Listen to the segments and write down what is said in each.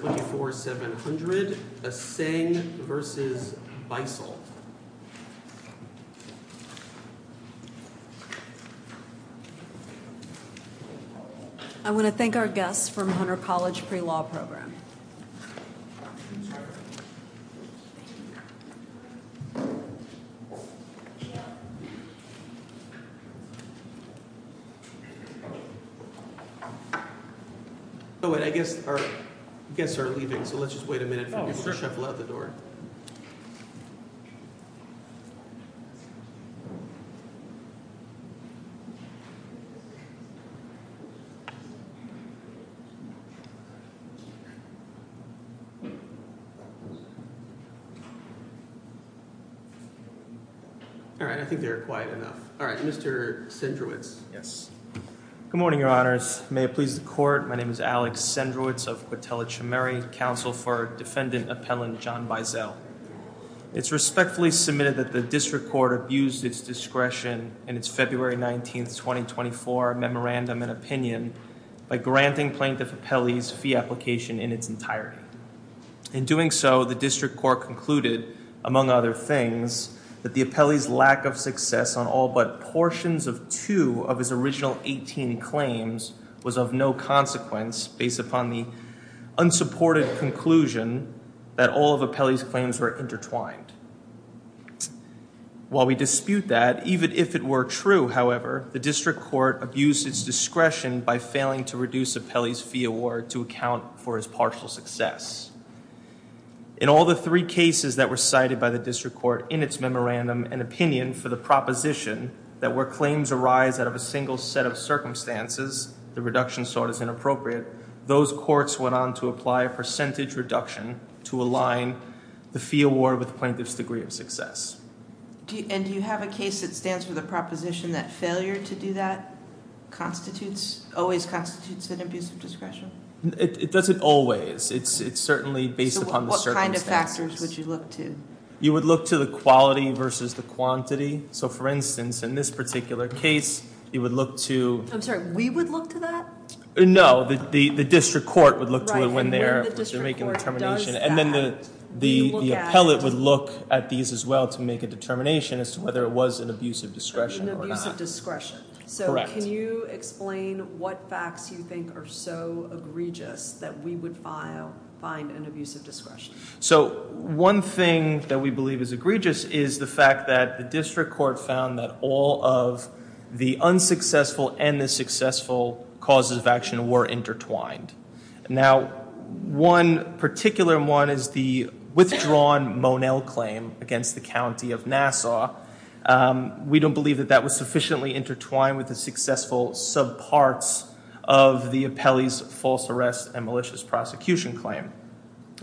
I want to thank our guests from Hunter College Pre-Law Program. Oh, and I guess our guests are leaving, so let's just wait a minute for them to shuffle out the door. All right, I think they're quiet enough. All right, Mr. Sendrewitz. Yes. Good morning, your honors. May it please the court. My name is Alex Sendrewitz of Quintella Chimury, counsel for defendant appellant John Beisel. It's respectfully submitted that the district court abused its discretion in its February 19th, 2024 memorandum and opinion by granting Plaintiff Apelli's fee application in its entirety. In doing so, the district court concluded, among other things, that the Apelli's lack of success on all but portions of two of his original 18 claims was of no consequence, based upon the unsupported conclusion that all of Apelli's claims were intertwined. While we dispute that, even if it were true, however, the district court abused its discretion by failing to reduce Apelli's fee award to account for his partial success. In all the three cases that were cited by the district court in its memorandum and opinion for the proposition that where claims arise out of a single set of circumstances, the reduction sought is inappropriate, those courts went on to apply a percentage reduction to align the fee award with the plaintiff's degree of success. And do you have a case that stands for the proposition that failure to do that constitutes, always constitutes an abuse of discretion? It doesn't always. It's certainly based upon the circumstances. So what kind of factors would you look to? You would look to the quality versus the quantity. So for instance, in this particular case, you would look to... I'm sorry, we would look to that? No, the district court would look to it when they're making a determination. And then the appellate would look at these as well to make a determination as to whether it was an abuse of discretion or not. An abuse of discretion. Correct. Can you explain what facts you think are so egregious that we would find an abuse of discretion? So one thing that we believe is egregious is the fact that the district court found that all of the unsuccessful and the successful causes of action were intertwined. Now, one particular one is the withdrawn Monell claim against the county of Nassau. We don't believe that that was sufficiently intertwined with the successful subparts of the appellee's false arrest and malicious prosecution claim.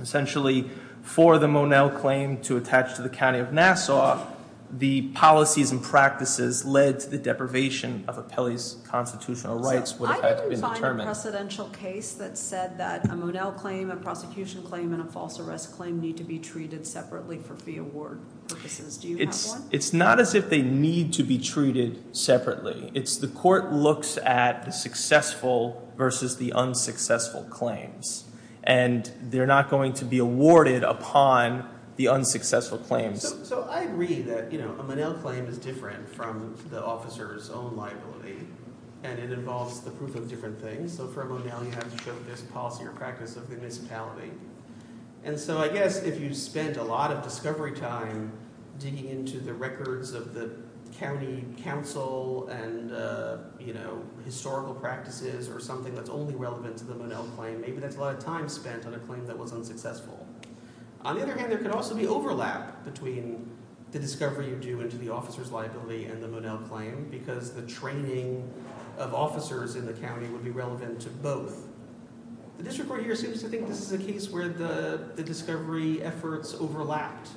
Essentially, for the Monell claim to attach to the county of Nassau, the policies and practices led to the deprivation of appellee's constitutional rights would have had to be determined. I didn't find a precedential case that said that a Monell claim, a prosecution claim, and a false arrest claim need to be treated separately for fee award purposes. Do you have one? It's not as if they need to be treated separately. It's the court looks at the successful versus the unsuccessful claims, and they're not going to be awarded upon the unsuccessful claims. So I agree that a Monell claim is different from the officer's own liability, and it involves the proof of different things. So for a Monell, you have to show this policy or practice of the municipality. And so I guess if you spent a lot of discovery time digging into the records of the county council and historical practices or something that's only relevant to the Monell claim, maybe that's a lot of time spent on a claim that was unsuccessful. On the other hand, there could also be overlap between the discovery you do into the officer's liability and the Monell claim because the training of officers in the county would be relevant to both. The district court here seems to think this is a case where the discovery efforts overlapped,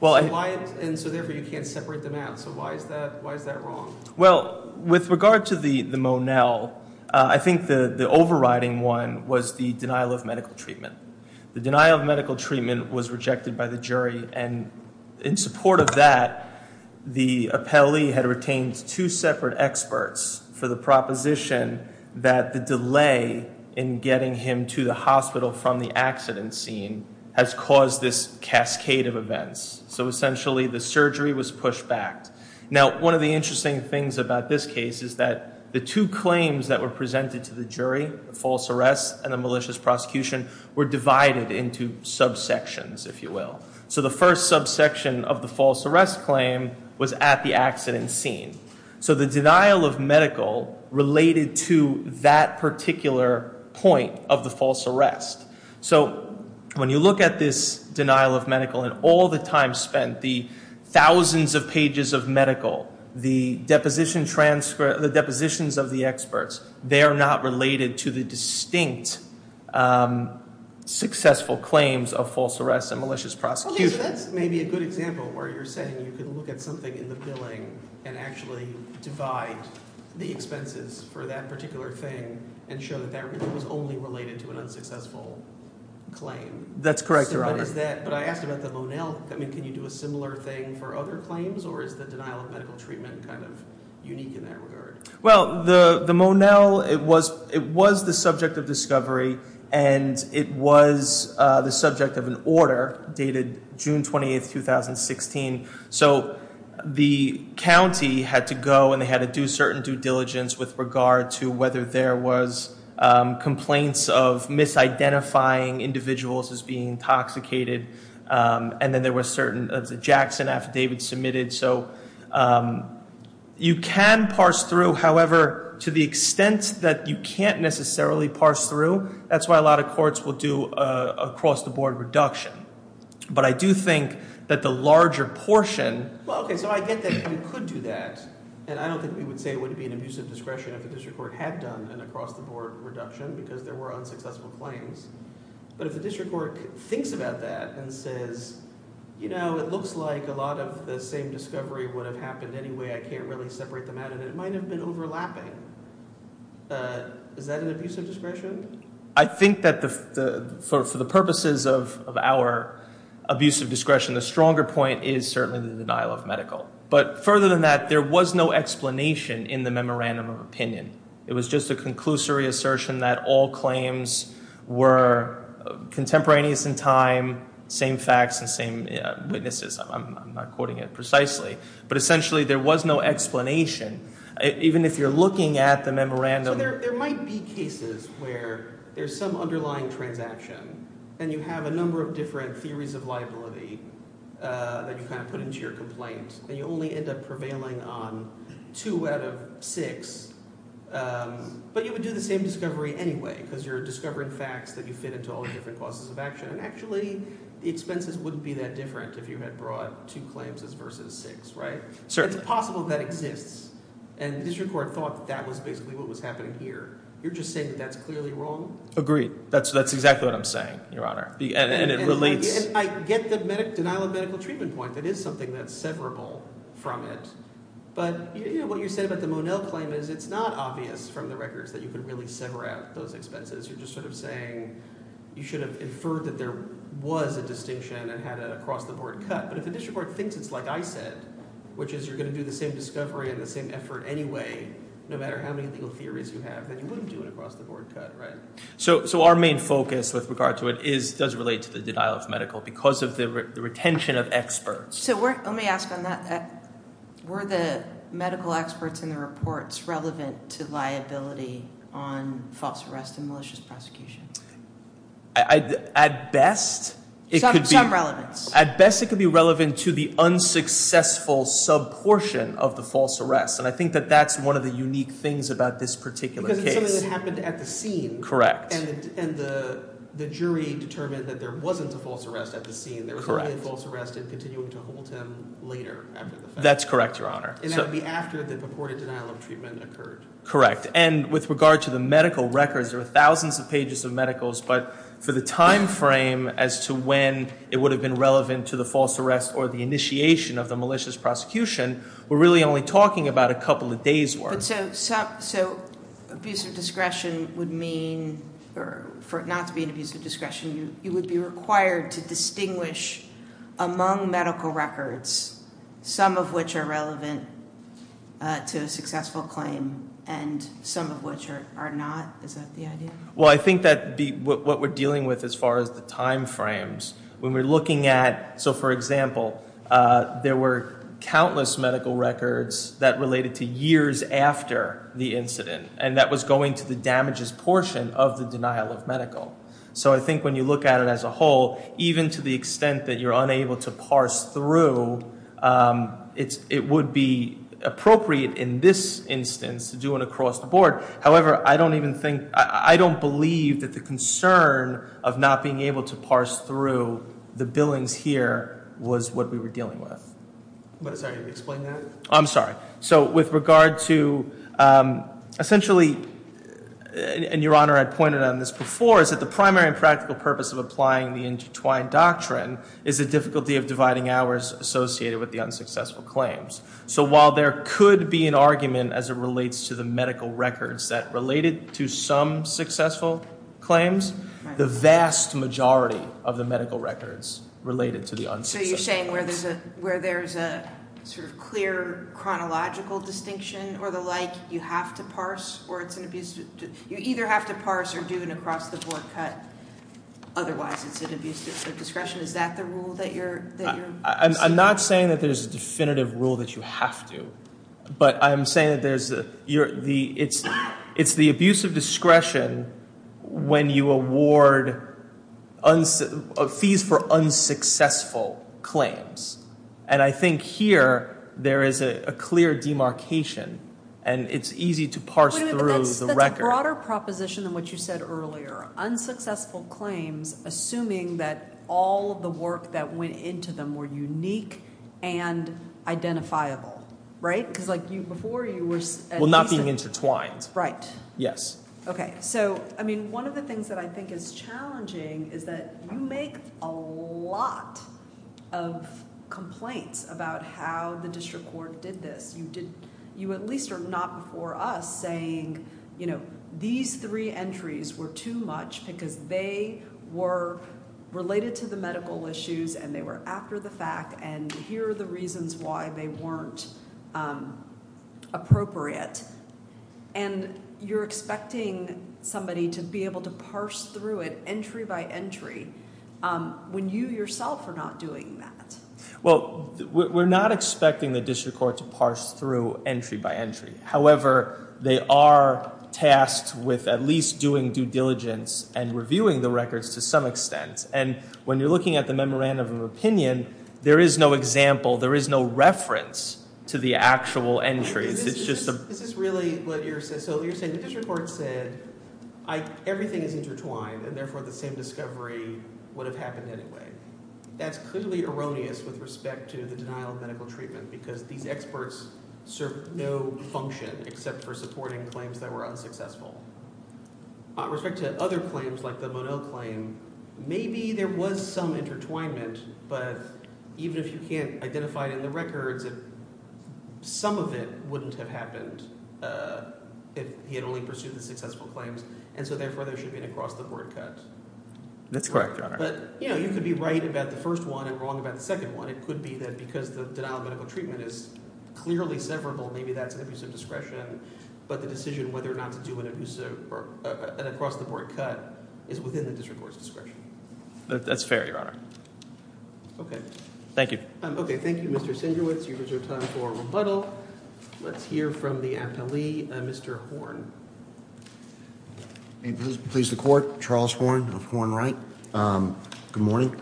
and so therefore you can't separate them out. So why is that wrong? Well, with regard to the Monell, I think the overriding one was the denial of medical treatment. The denial of medical treatment was rejected by the jury, and in support of that, the appellee had retained two separate experts for the proposition that the delay in getting him to the hospital from the accident scene has caused this cascade of events. So essentially, the surgery was pushed back. Now, one of the interesting things about this case is that the two claims that were presented to the jury, the false arrest and the malicious prosecution, were divided into subsections, if you will. So the first subsection of the false arrest claim was at the accident scene. So the denial of medical related to that particular point of the false arrest. So when you look at this denial of medical and all the time spent, the thousands of pages of medical, the depositions of the experts, they are not related to the distinct successful claims of false arrest and malicious prosecution. So that's maybe a good example where you're saying you can look at something in the billing and actually divide the expenses for that particular thing and show that that was only related to an unsuccessful claim. That's correct, Your Honor. But I asked about the Monell. I mean, can you do a similar thing for other claims, or is the denial of medical treatment kind of unique in that regard? Well, the Monell, it was the subject of discovery, and it was the subject of an order dated June 28, 2016. So the county had to go and they had to do certain due diligence with regard to whether there was complaints of misidentifying individuals as being intoxicated, and then there was a Jackson affidavit submitted. So you can parse through. However, to the extent that you can't necessarily parse through, that's why a lot of courts will do a cross-the-board reduction. But I do think that the larger portion – Well, okay, so I get that you could do that, and I don't think we would say it would be an abusive discretion if the district court had done an across-the-board reduction because there were unsuccessful claims. But if the district court thinks about that and says, you know, it looks like a lot of the same discovery would have happened anyway, I can't really separate them out, and it might have been overlapping, is that an abusive discretion? I think that for the purposes of our abusive discretion, the stronger point is certainly the denial of medical. But further than that, there was no explanation in the memorandum of opinion. It was just a conclusory assertion that all claims were contemporaneous in time, same facts and same witnesses. I'm not quoting it precisely. But essentially there was no explanation, even if you're looking at the memorandum. So there might be cases where there's some underlying transaction and you have a number of different theories of liability that you kind of put into your complaint, and you only end up prevailing on two out of six. But you would do the same discovery anyway because you're discovering facts that you fit into all the different causes of action. And actually the expenses wouldn't be that different if you had brought two claims versus six, right? It's possible that exists, and the district court thought that that was basically what was happening here. You're just saying that that's clearly wrong? Agreed. That's exactly what I'm saying, Your Honor, and it relates. I get the denial of medical treatment point. That is something that's severable from it. But what you said about the Monell claim is it's not obvious from the records that you can really sever out those expenses. You're just sort of saying you should have inferred that there was a distinction and had an across-the-board cut. But if the district court thinks it's like I said, which is you're going to do the same discovery and the same effort anyway, no matter how many legal theories you have, then you wouldn't do an across-the-board cut, right? So our main focus with regard to it does relate to the denial of medical because of the retention of experts. So let me ask on that. Were the medical experts in the reports relevant to liability on false arrest and malicious prosecution? At best, it could be. Some relevance. At best, it could be relevant to the unsuccessful sub-portion of the false arrest, and I think that that's one of the unique things about this particular case. Because it's something that happened at the scene. Correct. And the jury determined that there wasn't a false arrest at the scene. Correct. There was a false arrest and continuing to hold him later after the fact. That's correct, Your Honor. And that would be after the purported denial of treatment occurred. Correct. And with regard to the medical records, there were thousands of pages of medicals, but for the time frame as to when it would have been relevant to the false arrest or the initiation of the malicious prosecution, we're really only talking about a couple of days' worth. So abuse of discretion would mean, for it not to be an abuse of discretion, you would be required to distinguish among medical records, some of which are relevant to a successful claim and some of which are not? Is that the idea? Well, I think that what we're dealing with as far as the time frames, when we're looking at, so for example, there were countless medical records that related to years after the incident, and that was going to the damages portion of the denial of medical. So I think when you look at it as a whole, even to the extent that you're unable to parse through, it would be appropriate in this instance to do it across the board. However, I don't believe that the concern of not being able to parse through the billings here was what we were dealing with. What is that? Can you explain that? I'm sorry. So with regard to essentially, and Your Honor, I pointed on this before, is that the primary and practical purpose of applying the intertwined doctrine is the difficulty of dividing hours associated with the unsuccessful claims. So while there could be an argument as it relates to the medical records that related to some successful claims, the vast majority of the medical records related to the unsuccessful claims. So you're saying where there's a sort of clear chronological distinction or the like, you have to parse, or it's an abuse? You either have to parse or do an across-the-board cut. Otherwise, it's an abuse of discretion. Is that the rule that you're – I'm not saying that there's a definitive rule that you have to. But I'm saying that there's – it's the abuse of discretion when you award fees for unsuccessful claims. And I think here there is a clear demarcation, and it's easy to parse through the record. That's a broader proposition than what you said earlier. Unsuccessful claims, assuming that all of the work that went into them were unique and identifiable, right? Because, like, before you were at least – Well, not being intertwined. Right. Yes. Okay. So, I mean, one of the things that I think is challenging is that you make a lot of complaints about how the district court did this. You at least are not before us saying, you know, these three entries were too much because they were related to the medical issues, and they were after the fact, and here are the reasons why they weren't appropriate. And you're expecting somebody to be able to parse through it entry by entry when you yourself are not doing that. Well, we're not expecting the district court to parse through entry by entry. However, they are tasked with at least doing due diligence and reviewing the records to some extent. And when you're looking at the memorandum of opinion, there is no example, there is no reference to the actual entries. This is really what you're saying. So you're saying the district court said everything is intertwined, and therefore the same discovery would have happened anyway. That's clearly erroneous with respect to the denial of medical treatment because these experts serve no function except for supporting claims that were unsuccessful. With respect to other claims like the Monod claim, maybe there was some intertwinement, but even if you can't identify it in the records, some of it wouldn't have happened if he had only pursued the successful claims, and so therefore there should be an across-the-board cut. That's correct, Your Honor. But you could be right about the first one and wrong about the second one. It could be that because the denial of medical treatment is clearly severable, maybe that's an abuse of discretion, but the decision whether or not to do an across-the-board cut is within the district court's discretion. That's fair, Your Honor. Okay. Thank you. Okay. Thank you, Mr. Singewitz. You've reserved time for rebuttal. Let's hear from the appellee, Mr. Horn. May it please the Court. Charles Horn of Horn-Wright. Good morning.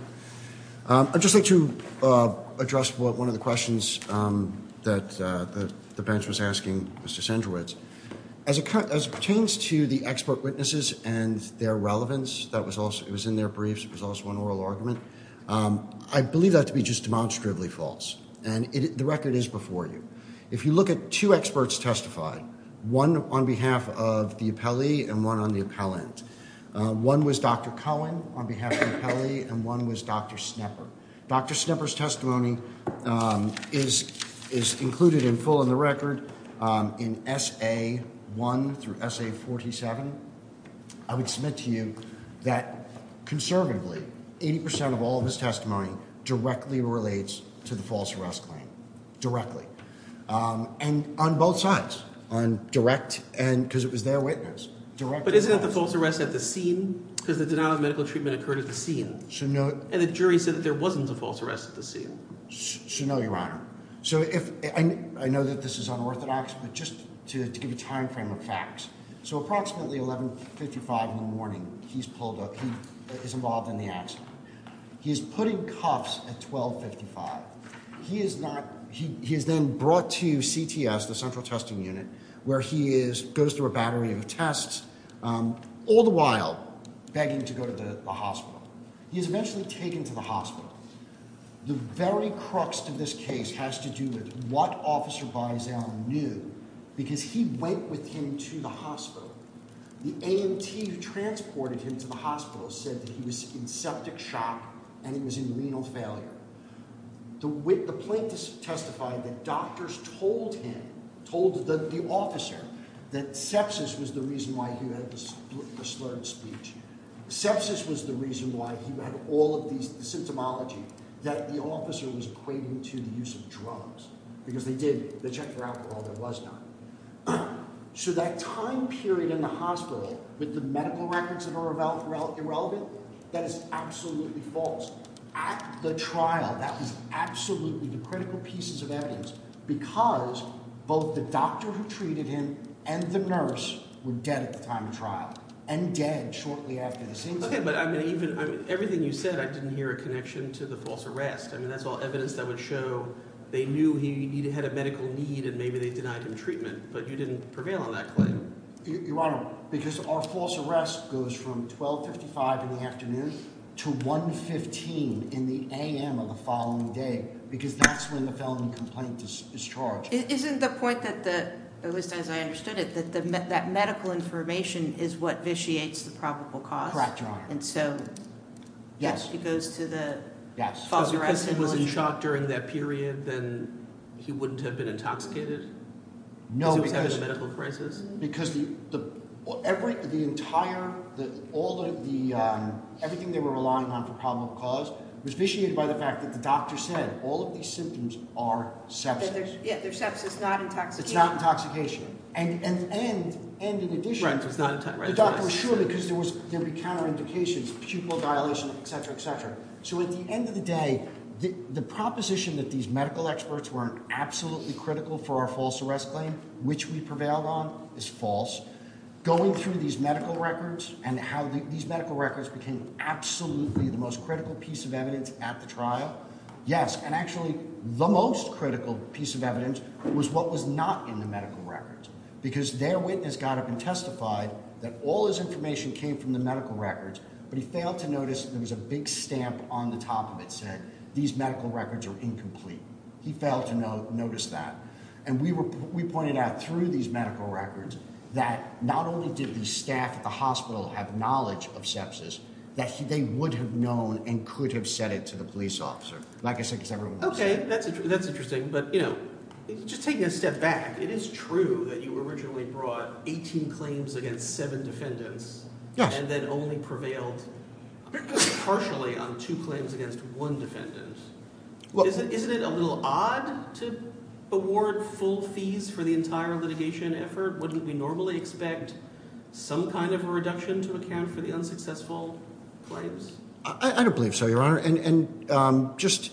I'd just like to address one of the questions that the bench was asking Mr. Singewitz. As it pertains to the expert witnesses and their relevance, it was in their briefs, it was also an oral argument, I believe that to be just demonstrably false, and the record is before you. If you look at two experts testified, one on behalf of the appellee and one on the appellant, one was Dr. Cohen on behalf of the appellee and one was Dr. Snepper. Dr. Snepper's testimony is included in full in the record in SA1 through SA47. I would submit to you that conservatively, 80% of all of his testimony directly relates to the false arrest claim. Directly. And on both sides. On direct and because it was their witness. But isn't it the false arrest at the scene? Because the denial of medical treatment occurred at the scene. And the jury said that there wasn't a false arrest at the scene. No, Your Honor. I know that this is unorthodox, but just to give you a time frame of facts. So approximately 11.55 in the morning, he is involved in the accident. He is put in cuffs at 12.55. He is then brought to CTS, the central testing unit, where he goes through a battery of tests, all the while begging to go to the hospital. He is eventually taken to the hospital. The very crux of this case has to do with what Officer Bison knew. Because he went with him to the hospital. The AMT who transported him to the hospital said that he was in septic shock and he was in renal failure. The plaintiffs testified that doctors told him, told the officer, that sepsis was the reason why he had the slurred speech. Sepsis was the reason why he had all of these, the symptomology, that the officer was equating to the use of drugs. Because they did, they checked for alcohol, there was none. So that time period in the hospital with the medical records that are irrelevant, that is absolutely false. At the trial, that was absolutely the critical pieces of evidence. Because both the doctor who treated him and the nurse were dead at the time of trial. And dead shortly after the same time. Okay, but I mean, everything you said, I didn't hear a connection to the false arrest. I mean, that's all evidence that would show they knew he had a medical need and maybe they denied him treatment. But you didn't prevail on that claim. Your Honor, because our false arrest goes from 12.55 in the afternoon to 1.15 in the AM of the following day. Because that's when the felony complaint is charged. Isn't the point that the, at least as I understood it, that medical information is what vitiates the probable cause? Correct, Your Honor. And so, yes, it goes to the false arrest. So because he was in shock during that period, then he wouldn't have been intoxicated? No. Because he was having a medical crisis? Because everything they were relying on for probable cause was vitiated by the fact that the doctor said all of these symptoms are sepsis. Yeah, they're sepsis, not intoxication. It's not intoxication. And in addition- Right, it's not intoxication. The doctor was sure because there would be counter indications, pupil dilation, etc., etc. So at the end of the day, the proposition that these medical experts weren't absolutely critical for our false arrest claim, which we prevailed on, is false. Going through these medical records and how these medical records became absolutely the most critical piece of evidence at the trial, yes. And actually, the most critical piece of evidence was what was not in the medical records. Because their witness got up and testified that all his information came from the medical records, but he failed to notice there was a big stamp on the top of it that said these medical records are incomplete. He failed to notice that. And we pointed out through these medical records that not only did the staff at the hospital have knowledge of sepsis, that they would have known and could have said it to the police officer. Like I said, because everyone knows. Okay, that's interesting. But, you know, just taking a step back, it is true that you originally brought 18 claims against seven defendants and then only prevailed partially on two claims against one defendant. Isn't it a little odd to award full fees for the entire litigation effort? Wouldn't we normally expect some kind of a reduction to account for the unsuccessful claims? I don't believe so, Your Honor. And just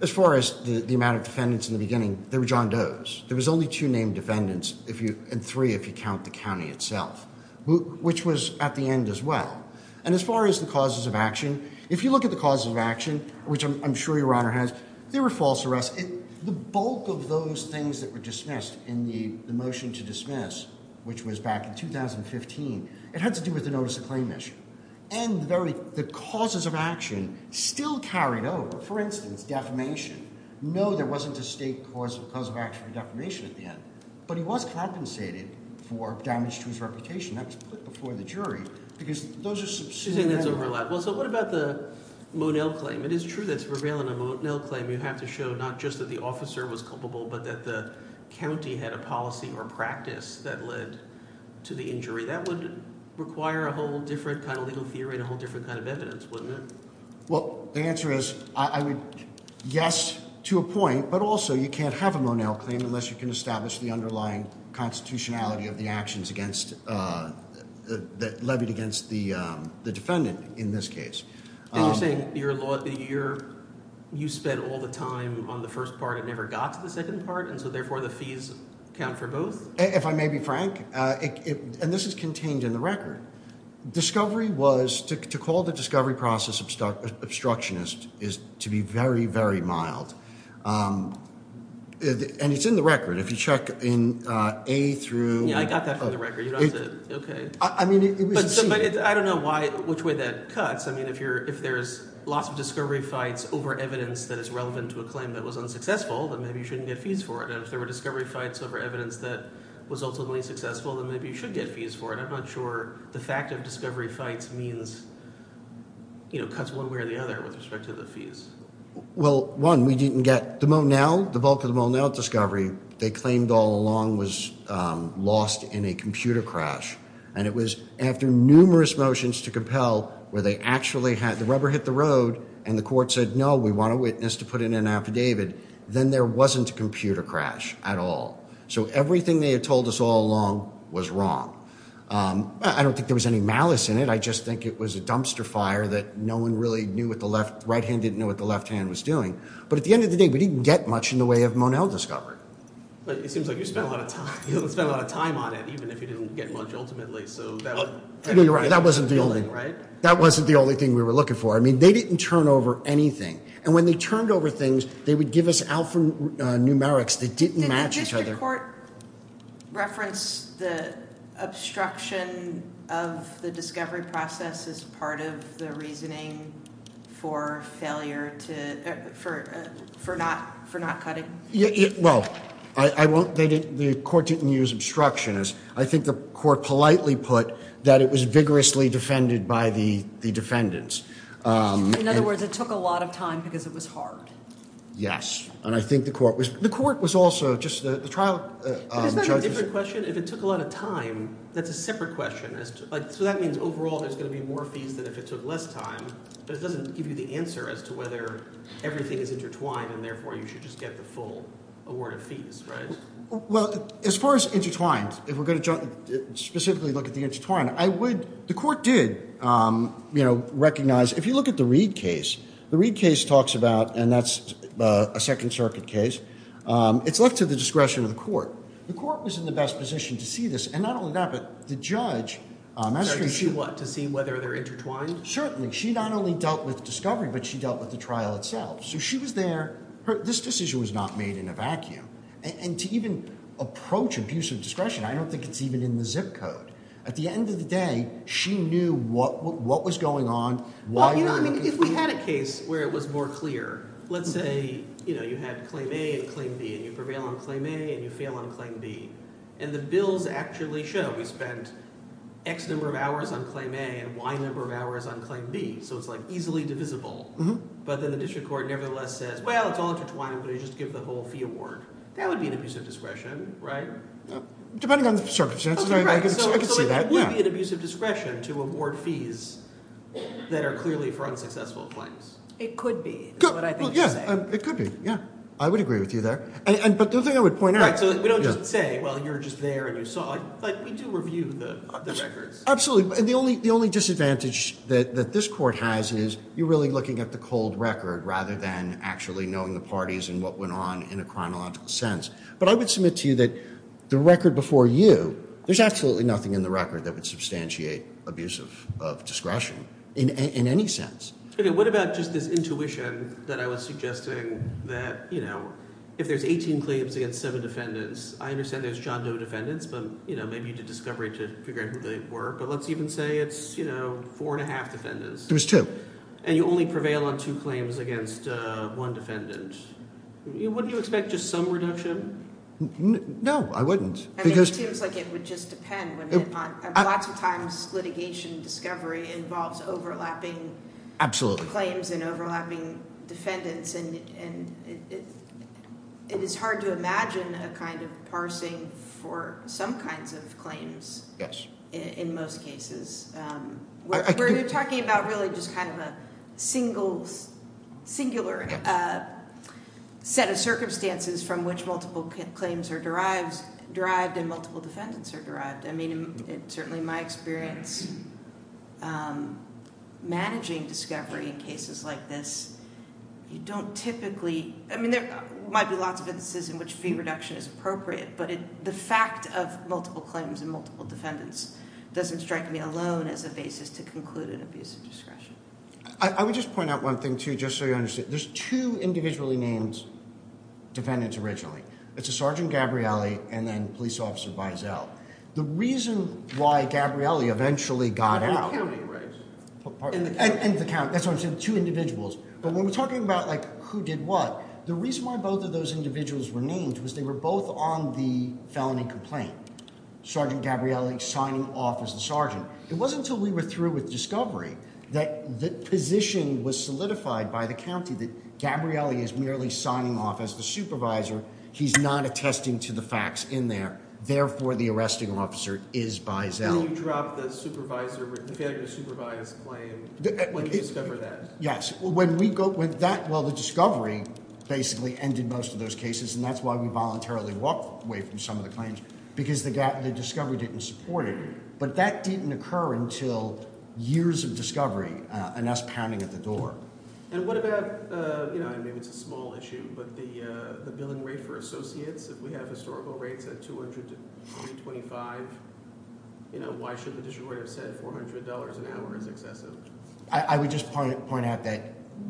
as far as the amount of defendants in the beginning, there were John Does. There was only two named defendants and three if you count the county itself, which was at the end as well. And as far as the causes of action, if you look at the causes of action, which I'm sure Your Honor has, there were false arrests. The bulk of those things that were dismissed in the motion to dismiss, which was back in 2015, it had to do with the notice of claim issue. And the causes of action still carried over. For instance, defamation. No, there wasn't a state cause of action for defamation at the end. But he was compensated for damage to his reputation. That was put before the jury because those are substantial. Well, so what about the Monell claim? It is true that to prevail in a Monell claim you have to show not just that the officer was culpable but that the county had a policy or practice that led to the injury. That would require a whole different kind of legal theory and a whole different kind of evidence, wouldn't it? Well, the answer is I would – yes, to a point, but also you can't have a Monell claim unless you can establish the underlying constitutionality of the actions against – levied against the defendant in this case. You're saying you're – you spent all the time on the first part and never got to the second part, and so therefore the fees count for both? If I may be frank – and this is contained in the record. Discovery was – to call the discovery process obstructionist is to be very, very mild. And it's in the record. If you check in A through – I got that from the record. You don't have to – okay. I mean it was – I don't know why – which way that cuts. I mean if you're – if there's lots of discovery fights over evidence that is relevant to a claim that was unsuccessful, then maybe you shouldn't get fees for it. And if there were discovery fights over evidence that was ultimately successful, then maybe you should get fees for it. I'm not sure the fact of discovery fights means – cuts one way or the other with respect to the fees. Well, one, we didn't get – the Monell – the bulk of the Monell discovery they claimed all along was lost in a computer crash. And it was after numerous motions to compel where they actually had – the rubber hit the road and the court said, no, we want a witness to put in an affidavit. Then there wasn't a computer crash at all. So everything they had told us all along was wrong. I don't think there was any malice in it. I just think it was a dumpster fire that no one really knew what the left – right hand didn't know what the left hand was doing. But at the end of the day, we didn't get much in the way of Monell discovery. It seems like you spent a lot of time on it, even if you didn't get much ultimately. So that – You're right. That wasn't the only thing we were looking for. I mean they didn't turn over anything. And when they turned over things, they would give us alphanumerics that didn't match each other. Did the district court reference the obstruction of the discovery process as part of the reasoning for failure to – for not cutting? Well, I won't – they didn't – the court didn't use obstruction. I think the court politely put that it was vigorously defended by the defendants. In other words, it took a lot of time because it was hard. Yes. And I think the court was – the court was also just – the trial judges – Isn't that a different question? If it took a lot of time, that's a separate question. So that means overall there's going to be more fees than if it took less time. But it doesn't give you the answer as to whether everything is intertwined and therefore you should just get the full award of fees, right? Well, as far as intertwined, if we're going to specifically look at the intertwined, I would – the court did recognize – if you look at the Reed case, the Reed case talks about – and that's a Second Circuit case. It's left to the discretion of the court. The court was in the best position to see this, and not only that, but the judge – To see what? To see whether they're intertwined? Certainly. She not only dealt with discovery but she dealt with the trial itself. So she was there. This decision was not made in a vacuum. And to even approach abuse of discretion, I don't think it's even in the zip code. At the end of the day, she knew what was going on, why – I mean if we had a case where it was more clear, let's say you had claim A and claim B and you prevail on claim A and you fail on claim B. And the bills actually show we spent X number of hours on claim A and Y number of hours on claim B. So it's like easily divisible. But then the district court nevertheless says, well, it's all intertwined. I'm going to just give the whole fee award. That would be an abuse of discretion, right? Depending on the circumstances, I can see that. So it would be an abuse of discretion to award fees that are clearly for unsuccessful claims. It could be is what I think you're saying. It could be, yeah. I would agree with you there. But the thing I would point out – So we don't just say, well, you're just there and you saw it. But we do review the records. Absolutely. The only disadvantage that this court has is you're really looking at the cold record rather than actually knowing the parties and what went on in a chronological sense. But I would submit to you that the record before you, there's absolutely nothing in the record that would substantiate abuse of discretion in any sense. What about just this intuition that I was suggesting that if there's 18 claims against seven defendants, I understand there's John Doe defendants, but maybe you did discovery to figure out who they were. But let's even say it's four and a half defendants. There was two. And you only prevail on two claims against one defendant. Wouldn't you expect just some reduction? No, I wouldn't. It seems like it would just depend. Lots of times litigation discovery involves overlapping claims and overlapping defendants. And it is hard to imagine a kind of parsing for some kinds of claims in most cases. We're talking about really just kind of a singular set of circumstances from which multiple claims are derived and multiple defendants are derived. I mean, certainly my experience managing discovery in cases like this, you don't typically, I mean, there might be lots of instances in which fee reduction is appropriate. But the fact of multiple claims and multiple defendants doesn't strike me alone as a basis to conclude an abuse of discretion. I would just point out one thing, too, just so you understand. There's two individually named defendants originally. It's a Sergeant Gabrielli and then police officer Biesel. The reason why Gabrielli eventually got out. In the county, right? In the county. That's what I'm saying. Two individuals. But when we're talking about, like, who did what? The reason why both of those individuals were named was they were both on the felony complaint. Sergeant Gabrielli signing off as a sergeant. It wasn't until we were through with discovery that the position was solidified by the county that Gabrielli is merely signing off as the supervisor. He's not attesting to the facts in there. Therefore, the arresting officer is Biesel. If you had a supervised claim, when did you discover that? Yes. Well, the discovery basically ended most of those cases, and that's why we voluntarily walked away from some of the claims, because the discovery didn't support it. But that didn't occur until years of discovery and us pounding at the door. And what about, you know, maybe it's a small issue, but the billing rate for associates? If we have historical rates at $200 to $325, you know, why should the district court have said $400 an hour is excessive? I would just point out that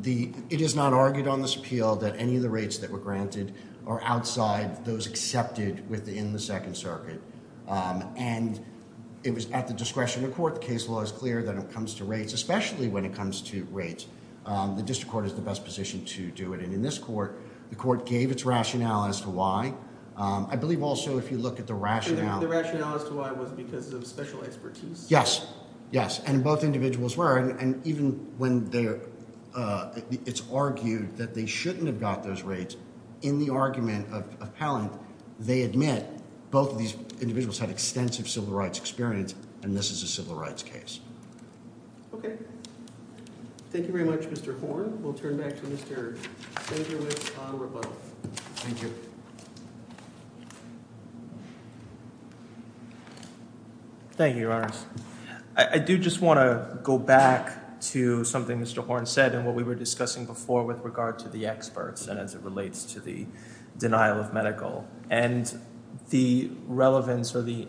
it is not argued on this appeal that any of the rates that were granted are outside those accepted within the Second Circuit. And it was at the discretion of the court. The case law is clear that when it comes to rates, especially when it comes to rates, the district court is the best position to do it. And in this court, the court gave its rationale as to why. I believe also if you look at the rationale. The rationale as to why was because of special expertise? Yes, yes. And both individuals were. And even when it's argued that they shouldn't have got those rates, in the argument of Pallant, they admit both of these individuals had extensive civil rights experience, and this is a civil rights case. Okay. Thank you very much, Mr. Horn. With that, we'll turn back to Mr. Sanger with Conor Rebuttal. Thank you. Thank you, Your Honors. I do just want to go back to something Mr. Horn said and what we were discussing before with regard to the experts and as it relates to the denial of medical. And the relevance or the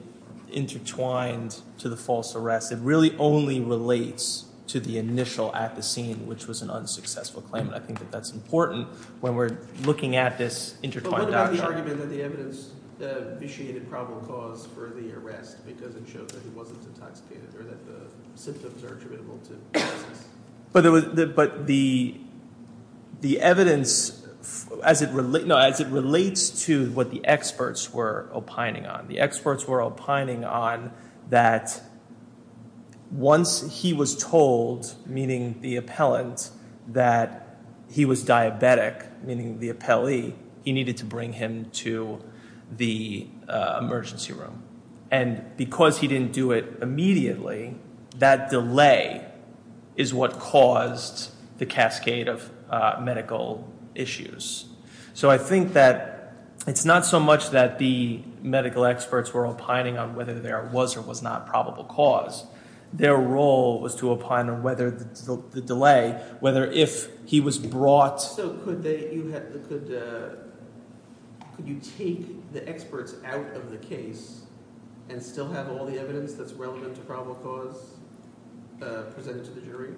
intertwined to the false arrest, it really only relates to the initial at the scene, which was an unsuccessful claim. And I think that that's important when we're looking at this intertwined doctrine. But what about the argument that the evidence vitiated probable cause for the arrest because it showed that he wasn't intoxicated or that the symptoms are attributable to the process? But the evidence, as it relates to what the experts were opining on, the experts were opining on that once he was told, meaning the appellant, that he was diabetic, meaning the appellee, he needed to bring him to the emergency room. And because he didn't do it immediately, that delay is what caused the cascade of medical issues. So I think that it's not so much that the medical experts were opining on whether there was or was not probable cause. Their role was to opine on whether the delay, whether if he was brought. So could you take the experts out of the case and still have all the evidence that's relevant to probable cause presented to the jury?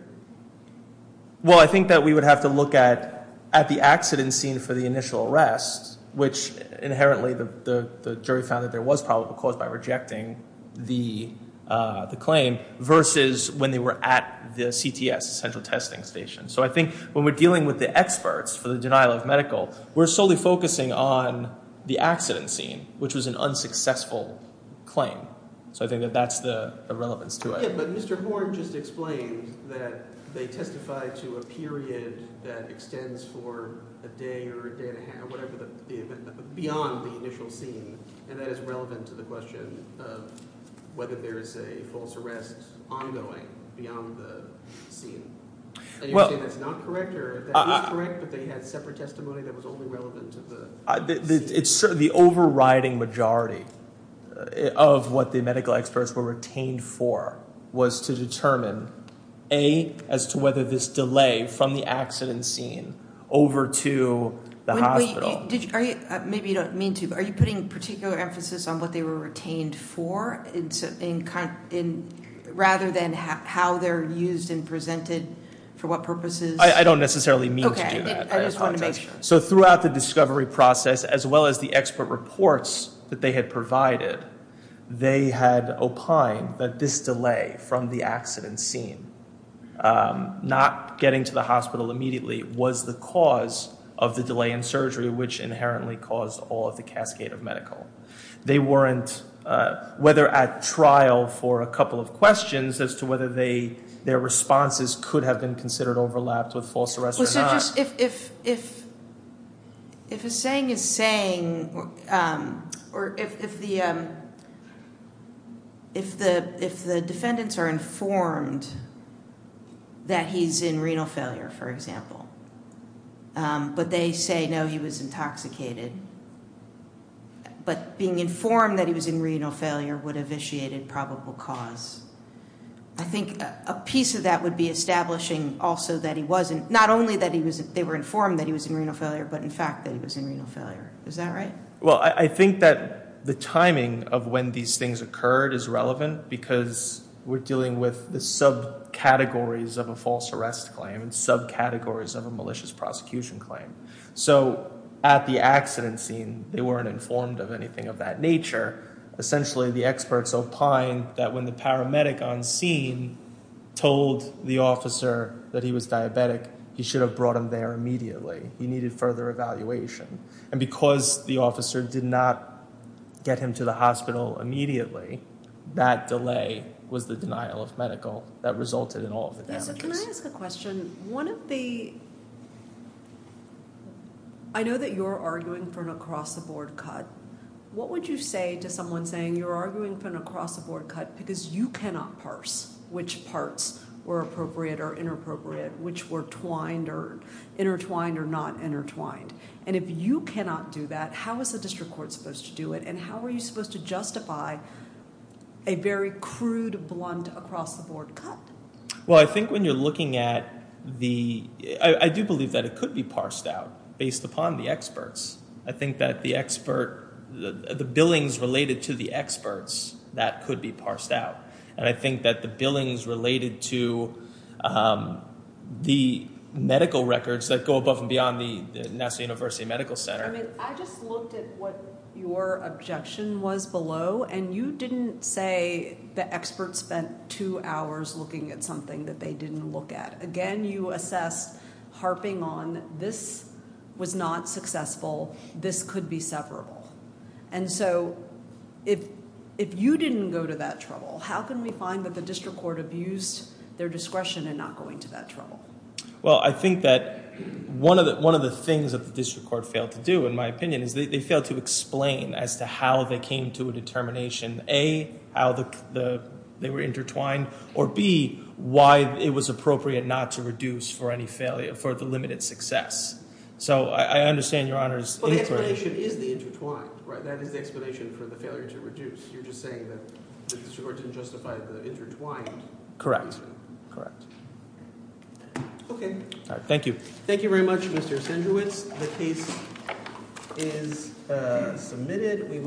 Well, I think that we would have to look at the accident scene for the initial arrest, which inherently the jury found that there was probable cause by rejecting the claim versus when they were at the CTS, the central testing station. So I think when we're dealing with the experts for the denial of medical, we're solely focusing on the accident scene, which was an unsuccessful claim. So I think that that's the relevance to it. Yeah, but Mr. Horn just explained that they testified to a period that extends for a day or a day and a half, whatever, beyond the initial scene. And that is relevant to the question of whether there is a false arrest ongoing beyond the scene. And you're saying that's not correct? Or that is correct, but they had separate testimony that was only relevant to the scene? The overriding majority of what the medical experts were retained for was to determine, A, as to whether this delay from the accident scene over to the hospital. Maybe you don't mean to, but are you putting particular emphasis on what they were retained for, rather than how they're used and presented, for what purposes? I don't necessarily mean to do that. Okay, I just want to make sure. So throughout the discovery process, as well as the expert reports that they had provided, they had opined that this delay from the accident scene, not getting to the hospital immediately, was the cause of the delay in surgery, which inherently caused all of the cascade of medical. They weren't, whether at trial for a couple of questions as to whether their responses could have been considered overlapped with false arrests or not. If a saying is saying, or if the defendants are informed that he's in renal failure, for example, but they say, no, he was intoxicated, but being informed that he was in renal failure would have initiated probable cause, I think a piece of that would be establishing also that he wasn't, not only that they were informed that he was in renal failure, but in fact that he was in renal failure. Is that right? Well, I think that the timing of when these things occurred is relevant, because we're dealing with the subcategories of a false arrest claim, and subcategories of a malicious prosecution claim. So at the accident scene, they weren't informed of anything of that nature. Essentially, the experts opined that when the paramedic on scene told the officer that he was diabetic, he should have brought him there immediately. He needed further evaluation. And because the officer did not get him to the hospital immediately, that delay was the denial of medical that resulted in all of the damages. So can I ask a question? One of the – I know that you're arguing for an across-the-board cut. What would you say to someone saying you're arguing for an across-the-board cut because you cannot parse which parts were appropriate or inappropriate, which were twined or intertwined or not intertwined? And if you cannot do that, how is the district court supposed to do it, and how are you supposed to justify a very crude, blunt, across-the-board cut? Well, I think when you're looking at the – I do believe that it could be parsed out based upon the experts. I think that the expert – the billings related to the experts, that could be parsed out. And I think that the billings related to the medical records that go above and beyond the National University Medical Center. I just looked at what your objection was below, and you didn't say the experts spent two hours looking at something that they didn't look at. Again, you assessed harping on this was not successful. This could be severable. And so if you didn't go to that trouble, how can we find that the district court abused their discretion in not going to that trouble? Well, I think that one of the things that the district court failed to do, in my opinion, is they failed to explain as to how they came to a determination, A, how they were intertwined, or B, why it was appropriate not to reduce for any failure – for the limited success. So I understand Your Honor's inquiry. But the explanation is the intertwined, right? That is the explanation for the failure to reduce. You're just saying that the district court didn't justify the intertwined. Correct. Okay. Thank you. Thank you very much, Mr. Sendrewicz. The case is submitted.